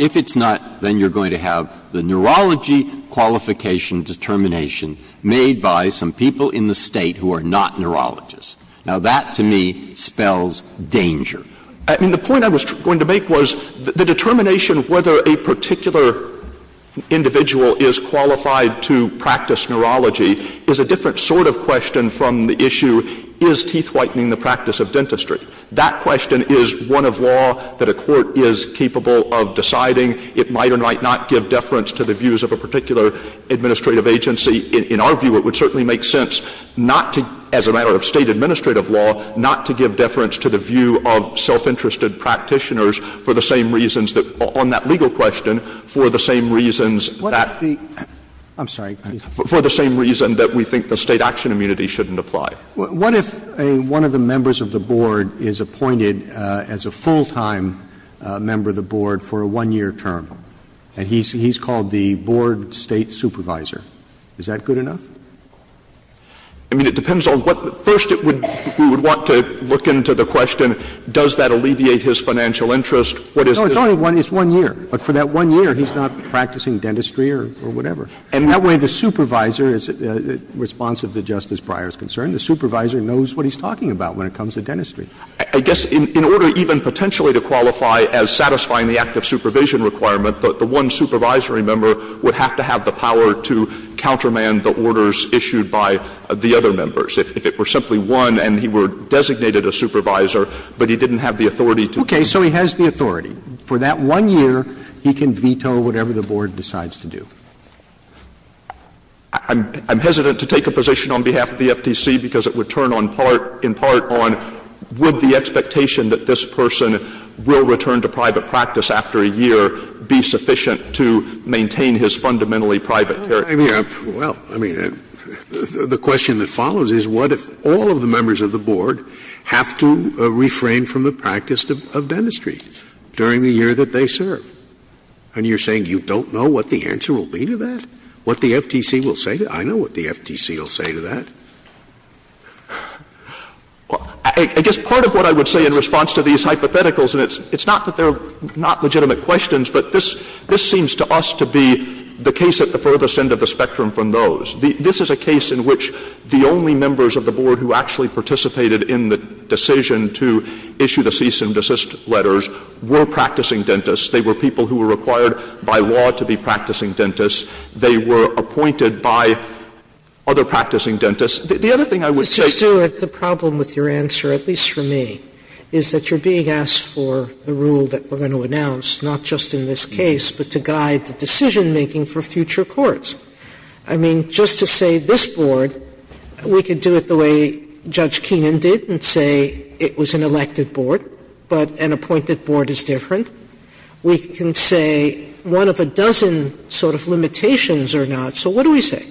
If it's not, then you're going to have the neurology qualification determination made by some people in the State who are not neurologists. Now, that to me spells danger. I mean, the point I was going to make was the determination whether a particular individual is qualified to practice neurology is a different sort of question from the issue, is teeth whitening the practice of dentistry? That question is one of law that a court is capable of deciding. It might or might not give deference to the views of a particular administrative agency. In our view, it would certainly make sense not to, as a matter of State administrative law, not to give deference to the view of self-interested practitioners for the same reasons that — on that legal question, for the same reasons that — What if the — I'm sorry. For the same reason that we think the State action immunity shouldn't apply. What if a — one of the members of the board is appointed as a full-time member of the board for a one-year term, and he's called the board State supervisor? Is that good enough? I mean, it depends on what — first, it would — we would want to look into the question, does that alleviate his financial interest? What is the— No, it's only one — it's one year. But for that one year, he's not practicing dentistry or whatever. And that way, the supervisor is responsive to Justice Breyer's concern. The supervisor knows what he's talking about when it comes to dentistry. I guess in order even potentially to qualify as satisfying the act of supervision requirement, the one supervisory member would have to have the power to countermand the orders issued by the other members. If it were simply one, and he were designated a supervisor, but he didn't have the authority to— Okay. So he has the authority. For that one year, he can veto whatever the board decides to do. I'm hesitant to take a position on behalf of the FTC because it would turn on part — in part on would the expectation that this person will return to private practice after a year be sufficient to maintain his fundamentally private character? Well, I mean, the question that follows is what if all of the members of the board have to refrain from the practice of dentistry during the year that they serve? And you're saying you don't know what the answer will be to that? What the FTC will say to that? I know what the FTC will say to that. I guess part of what I would say in response to these hypotheticals, and it's not that they're not legitimate questions, but this seems to us to be the case at the furthest end of the spectrum from those. This is a case in which the only members of the board who actually participated in the decision to issue the cease and desist letters were practicing dentists. They were people who were required by law to be practicing dentists. They were appointed by other practicing dentists. The other thing I would say — Mr. Stewart, the problem with your answer, at least for me, is that you're being asked for the rule that we're going to announce, not just in this case, but to guide the decision-making for future courts. I mean, just to say this board, we could do it the way Judge Keenan did and say it was an elected board, but an appointed board is different. We can say one of a dozen sort of limitations or not. So what do we say?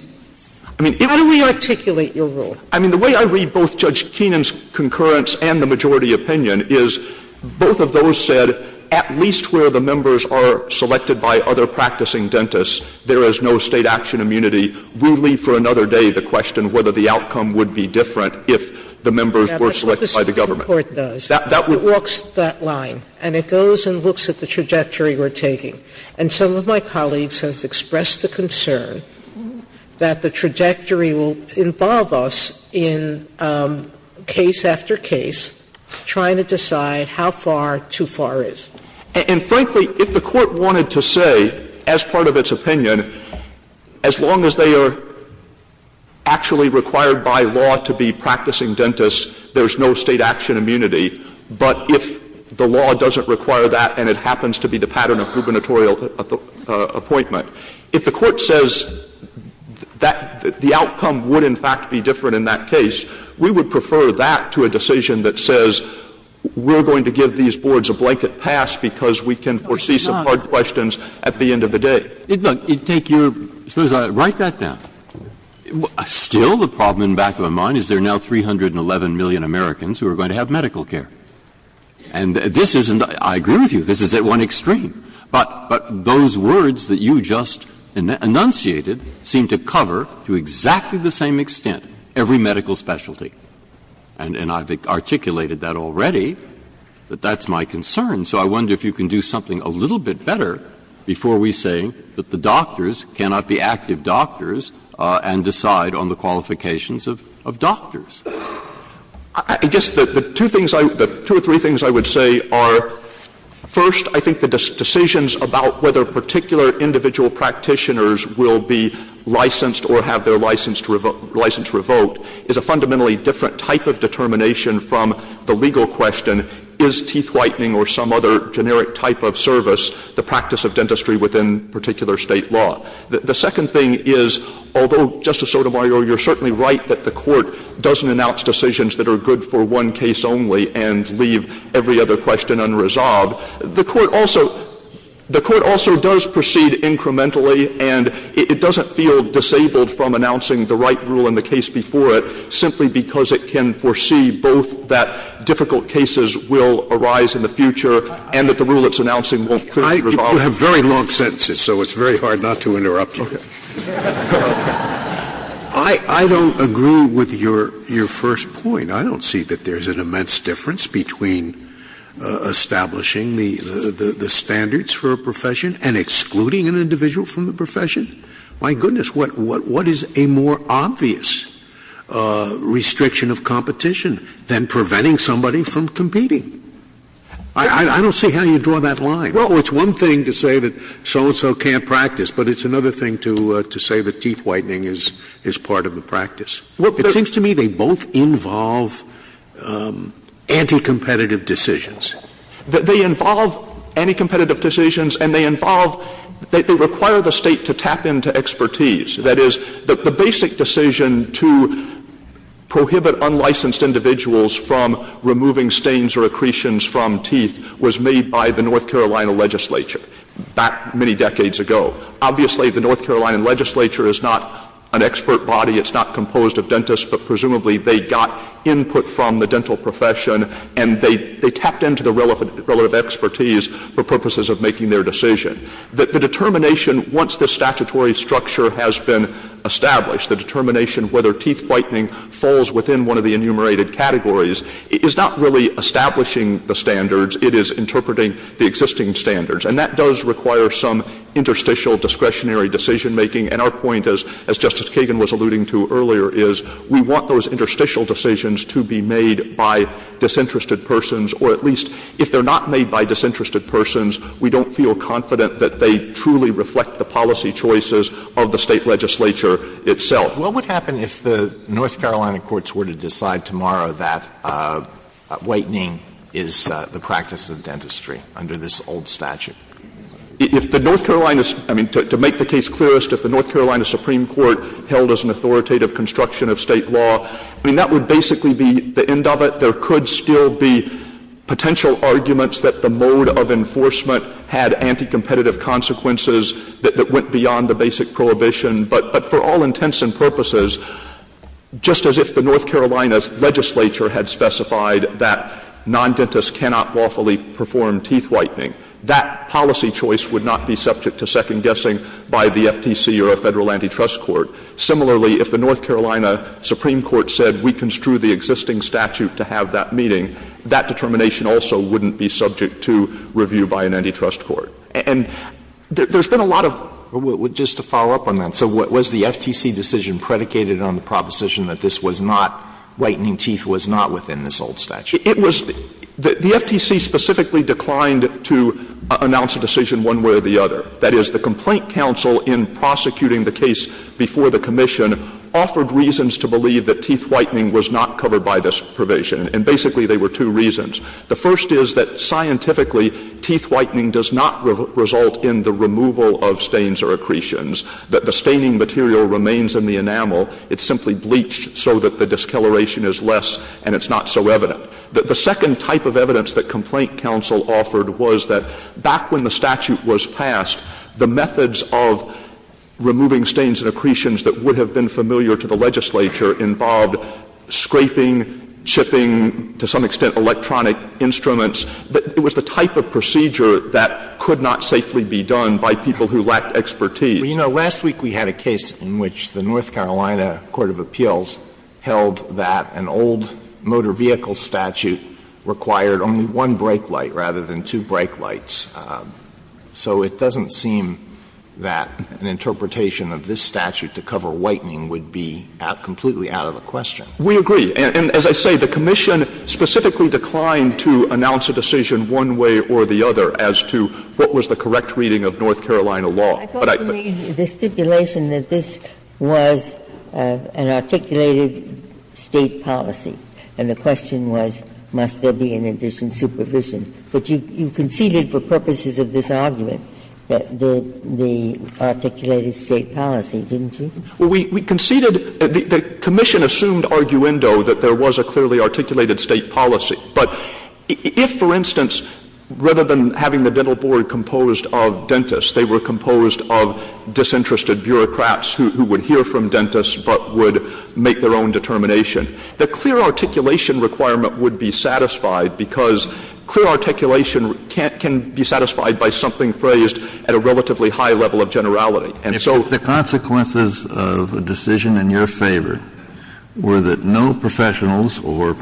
How do we articulate your rule? Stewart. I mean, the way I read both Judge Keenan's concurrence and the majority opinion is both of those said, at least where the members are selected by other practicing dentists, there is no State action immunity. We'll leave for another day the question whether the outcome would be different if the members were selected by the government. Sotomayor That's what the Supreme Court does. Stewart. Sotomayor It walks that line, and it goes and looks at the trajectory we're taking. And some of my colleagues have expressed the concern that the trajectory will involve us in case after case, trying to decide how far too far is. Stewart And frankly, if the Court wanted to say, as part of its opinion, as long as they are actually required by law to be practicing dentists, there's no State action immunity, but if the law doesn't require that and it happens to be the pattern of gubernatorial appointment, if the Court says that the outcome would, in fact, be different in that case, we would prefer that to a decision that says we're going to give these boards a blanket pass because we can foresee some hard questions at the end of the day. Breyer Write that down. Still, the problem in the back of my mind is there are now 311 million Americans who are going to have medical care. And this isn't the – I agree with you, this is at one extreme, but those words that you just enunciated seem to cover to exactly the same extent every medical specialty. And I've articulated that already, that that's my concern. So I wonder if you can do something a little bit better before we say that the doctors cannot be active doctors and decide on the qualifications of doctors. I guess the two things I – the two or three things I would say are, first, I think the decisions about whether particular individual practitioners will be licensed or have their license revoked is a fundamentally different type of determination from the legal question, is teeth whitening or some other generic type of service the practice of dentistry within particular State law. The second thing is, although, Justice Sotomayor, you're certainly right that the Court doesn't announce decisions that are good for one case only and leave every other question unresolved, the Court also – the Court also does proceed incrementally and it doesn't feel disabled from announcing the right rule in the case before it simply because it can foresee both that difficult cases will arise in the future and that the rule it's announcing won't clearly resolve it. I do have very long sentences, so it's very hard not to interrupt you. I don't agree with your first point. I don't see that there's an immense difference between establishing the standards for a profession and excluding an individual from the profession. My goodness, what is a more obvious restriction of competition than preventing somebody from competing? I don't see how you draw that line. Well, it's one thing to say that so-and-so can't practice, but it's another thing to say that teeth whitening is part of the practice. It seems to me they both involve anti-competitive decisions. They involve anti-competitive decisions and they involve – they require the State to tap into expertise. That is, the basic decision to prohibit unlicensed individuals from removing stains or accretions from teeth was made by the North Carolina legislature back many decades ago. Obviously, the North Carolina legislature is not an expert body. It's not composed of dentists, but presumably they got input from the dental profession and they tapped into the relative expertise for purposes of making their decision. The determination, once the statutory structure has been established, the determination whether teeth whitening falls within one of the enumerated categories is not really establishing the standards. It is interpreting the existing standards. And that does require some interstitial discretionary decision-making. And our point, as Justice Kagan was alluding to earlier, is we want those interstitial decisions to be made by disinterested persons, or at least if they're not made by disinterested persons, we don't feel confident that they truly reflect the policy choices of the State legislature itself. What would happen if the North Carolina courts were to decide tomorrow that whitening is the practice of dentistry under this old statute? If the North Carolina — I mean, to make the case clearest, if the North Carolina Supreme Court held as an authoritative construction of State law, I mean, that would basically be the end of it. There could still be potential arguments that the mode of enforcement had anticompetitive consequences that went beyond the basic prohibition. But for all intents and purposes, just as if the North Carolina's legislature had specified that non-dentists cannot lawfully perform teeth whitening, that policy choice would not be subject to second-guessing by the FTC or a Federal antitrust court. Similarly, if the North Carolina Supreme Court said we construe the existing statute to have that meeting, that determination also wouldn't be subject to review by an antitrust court. And there's been a lot of — Alitoso, just to follow up on that, so was the FTC decision predicated on the proposition that this was not — whitening teeth was not within this old statute? It was — the FTC specifically declined to announce a decision one way or the other. That is, the complaint counsel in prosecuting the case before the commission offered reasons to believe that teeth whitening was not covered by this provision, and basically there were two reasons. The first is that scientifically, teeth whitening does not result in the removal of stains or accretions, that the staining material remains in the enamel. It's simply bleached so that the discoloration is less and it's not so evident. The second type of evidence that complaint counsel offered was that back when the statute was passed, the methods of removing stains and accretions that would have been familiar to the legislature involved scraping, chipping, to some extent, electronic instruments. It was the type of procedure that could not safely be done by people who lacked expertise. Alitoso, you know, last week we had a case in which the North Carolina court of appeals held that an old motor vehicle statute required only one brake light rather than two brake lights. So it doesn't seem that an interpretation of this statute to cover whitening would be completely out of the question. We agree. And as I say, the commission specifically declined to announce a decision one way or the other as to what was the correct reading of North Carolina law. But I think that's not the case. Ginsburg. I thought you made the stipulation that this was an articulated State policy. And the question was, must there be an addition supervision? But you conceded for purposes of this argument that the articulated State policy, didn't you? Well, we conceded, the commission assumed arguendo that there was a clearly articulated State policy. But if, for instance, rather than having the dental board composed of dentists, they were composed of disinterested bureaucrats who would hear from dentists but would make their own determination, the clear articulation requirement would be satisfied because clear articulation can't be satisfied by something phrased at a relatively high level of generality. And so the consequences of a decision in your favor were that no professionals or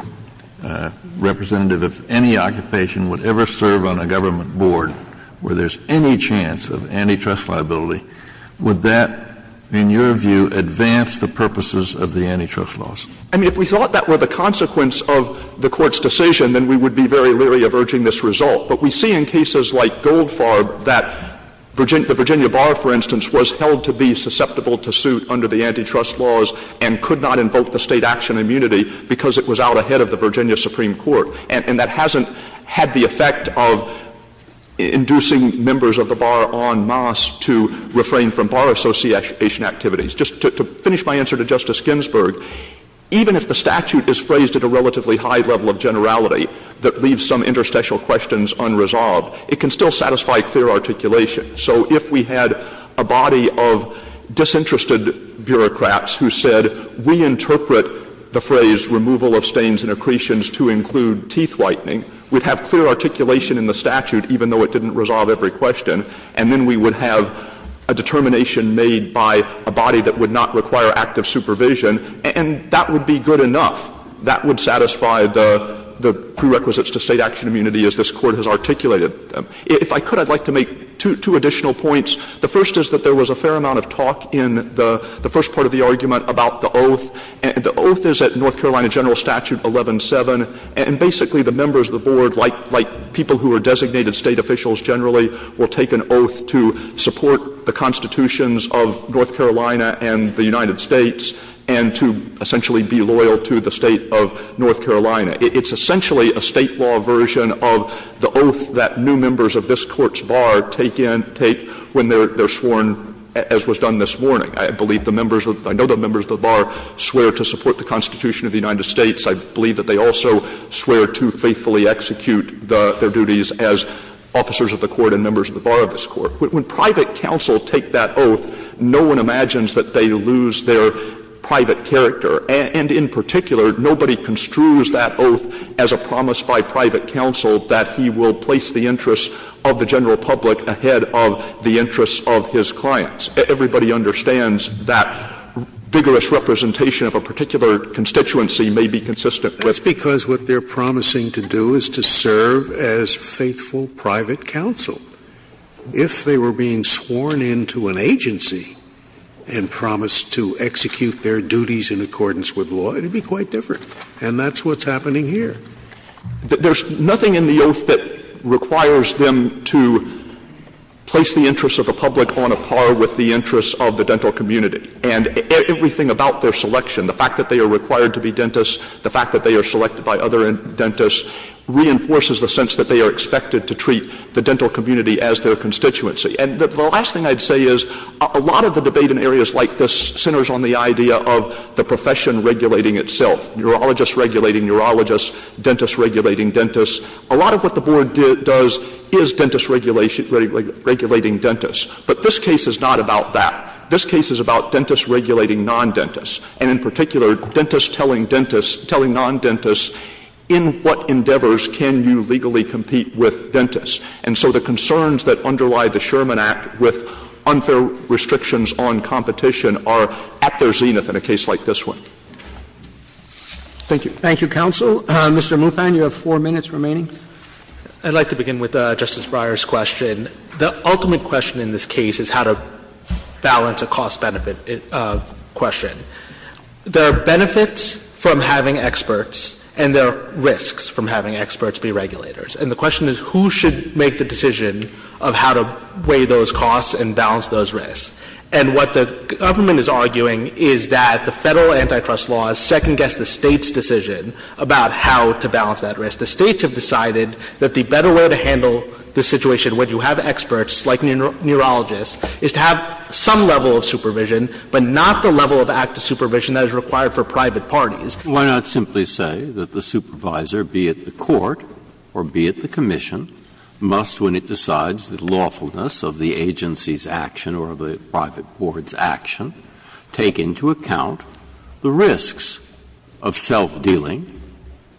representative of any occupation would ever serve on a government board where there's any chance of antitrust liability. Would that, in your view, advance the purposes of the antitrust laws? I mean, if we thought that were the consequence of the Court's decision, then we would be very leery of urging this result. But we see in cases like Goldfarb that the Virginia bar, for instance, was held to be susceptible to suit under the antitrust laws and could not invoke the State action immunity because it was out ahead of the Virginia Supreme Court. And that hasn't had the effect of inducing members of the bar en masse to refrain from bar association activities. Just to finish my answer to Justice Ginsburg, even if the statute is phrased at a relatively high level of generality that leaves some interstitial questions unresolved, it can still satisfy clear articulation. So if we had a body of disinterested bureaucrats who said we interpret the phrase removal of stains and accretions to include teeth whitening, we'd have clear articulation in the statute even though it didn't resolve every question. And then we would have a determination made by a body that would not require active supervision, and that would be good enough. That would satisfy the prerequisites to State action immunity as this Court has articulated. If I could, I'd like to make two additional points. The first is that there was a fair amount of talk in the first part of the argument about the oath. And the oath is at North Carolina General Statute 11-7. And basically the members of the board, like people who are designated State officials generally, will take an oath to support the constitutions of North Carolina and the state of North Carolina. It's essentially a State law version of the oath that new members of this Court's bar take in, take when they're sworn, as was done this morning. I believe the members of the bar, I know the members of the bar swear to support the Constitution of the United States. I believe that they also swear to faithfully execute their duties as officers of the Court and members of the bar of this Court. When private counsel take that oath, no one imagines that they lose their private character. And in particular, nobody construes that oath as a promise by private counsel that he will place the interests of the general public ahead of the interests of his clients. Everybody understands that vigorous representation of a particular constituency may be consistent with. Scalia. That's because what they're promising to do is to serve as faithful private If they were being sworn into an agency and promised to execute their duties as in accordance with law, it would be quite different. And that's what's happening here. There's nothing in the oath that requires them to place the interests of the public on a par with the interests of the dental community. And everything about their selection, the fact that they are required to be dentists, the fact that they are selected by other dentists, reinforces the sense that they are expected to treat the dental community as their constituency. And the last thing I'd say is a lot of the debate in areas like this centers on the profession regulating itself. Urologists regulating urologists, dentists regulating dentists. A lot of what the Board does is dentists regulating dentists. But this case is not about that. This case is about dentists regulating non-dentists. And in particular, dentists telling dentists, telling non-dentists, in what endeavors can you legally compete with dentists? And so the concerns that underlie the Sherman Act with unfair restrictions on competition are at their zenith in a case like this one. Thank you. Thank you, counsel. Mr. Muthan, you have four minutes remaining. I'd like to begin with Justice Breyer's question. The ultimate question in this case is how to balance a cost-benefit question. There are benefits from having experts and there are risks from having experts be regulators. And the question is who should make the decision of how to weigh those costs and balance those risks? And what the government is arguing is that the Federal antitrust law has second-guessed the State's decision about how to balance that risk. The States have decided that the better way to handle the situation when you have experts like neurologists is to have some level of supervision, but not the level of active supervision that is required for private parties. Why not simply say that the supervisor, be it the court or be it the commission, must, when it decides the lawfulness of the agency's action or the private board's action, take into account the risks of self-dealing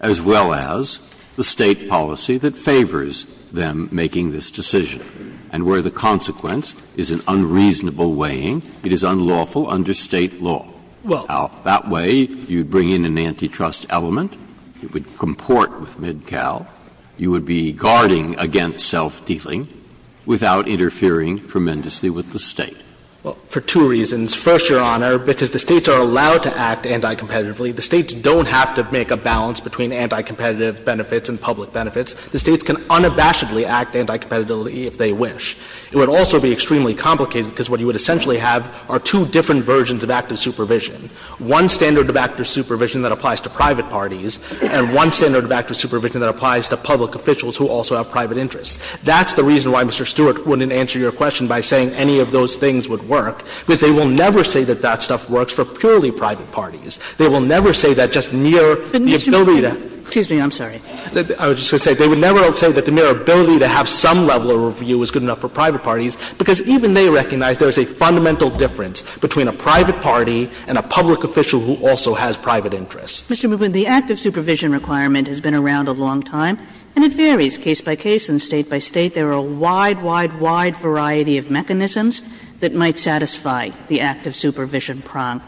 as well as the State policy that favors them making this decision? And where the consequence is an unreasonable weighing, it is unlawful under State law. Well, that way you bring in an antitrust element, it would comport with MidCal, you would be guarding against self-dealing without interfering tremendously with the State. Well, for two reasons. First, Your Honor, because the States are allowed to act anti-competitively. The States don't have to make a balance between anti-competitive benefits and public benefits. The States can unabashedly act anti-competitively if they wish. It would also be extremely complicated because what you would essentially have are two different versions of active supervision. One standard of active supervision that applies to private parties and one standard of active supervision that applies to public officials who also have private interests. That's the reason why Mr. Stewart wouldn't answer your question by saying any of those things would work, because they will never say that that stuff works for purely private parties. They will never say that just mere the ability to be able to have some level of review is good enough for private parties, because even they recognize there is a fundamental difference between a private party and a public official who also has private interests. Kagan. Mr. Newman, the active supervision requirement has been around a long time, and it varies case by case and State by State. There are a wide, wide, wide variety of mechanisms that might satisfy the active supervision prong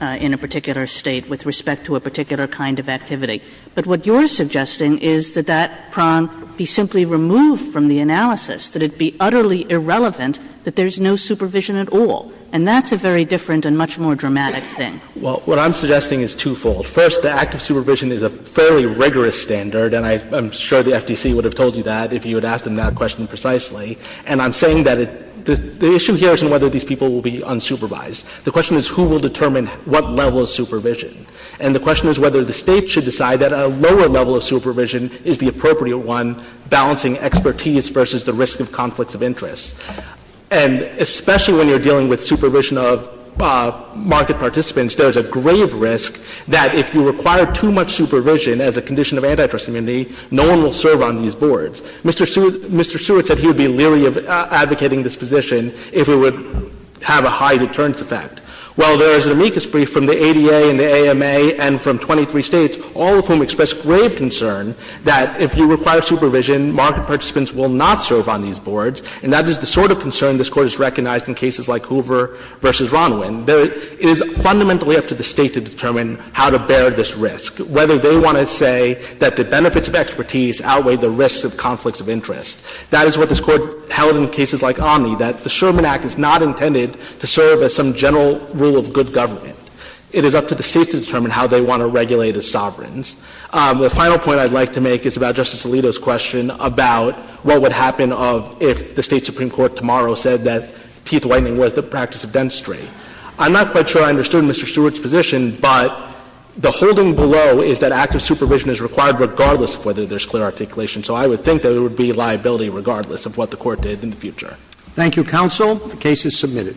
in a particular State with respect to a particular kind of activity. But what you're suggesting is that that prong be simply removed from the analysis, that it be utterly irrelevant, that there's no supervision at all. And that's a very different and much more dramatic thing. Well, what I'm suggesting is twofold. First, the active supervision is a fairly rigorous standard, and I'm sure the FTC would have told you that if you had asked them that question precisely. And I'm saying that the issue here isn't whether these people will be unsupervised. The question is who will determine what level of supervision. And the question is whether the State should decide that a lower level of supervision is the appropriate one, balancing expertise versus the risk of conflicts of interest. And especially when you're dealing with supervision of market participants, there's a grave risk that if you require too much supervision as a condition of antitrust immunity, no one will serve on these boards. Mr. Seward said he would be leery of advocating this position if it would have a high deterrence effect. Well, there is an amicus brief from the ADA and the AMA and from 23 States, all of whom express grave concern that if you require supervision, market participants will not And the sort of concern this Court has recognized in cases like Hoover v. Ronwin, it is fundamentally up to the State to determine how to bear this risk, whether they want to say that the benefits of expertise outweigh the risks of conflicts of interest. That is what this Court held in cases like Omni, that the Sherman Act is not intended to serve as some general rule of good government. It is up to the State to determine how they want to regulate as sovereigns. The final point I'd like to make is about Justice Alito's question about what would happen if the State Supreme Court tomorrow said that teeth whitening was the practice of dentistry. I'm not quite sure I understood Mr. Seward's position, but the holding below is that active supervision is required regardless of whether there is clear articulation. So I would think that it would be liability regardless of what the Court did in the future. Thank you, counsel. The case is submitted.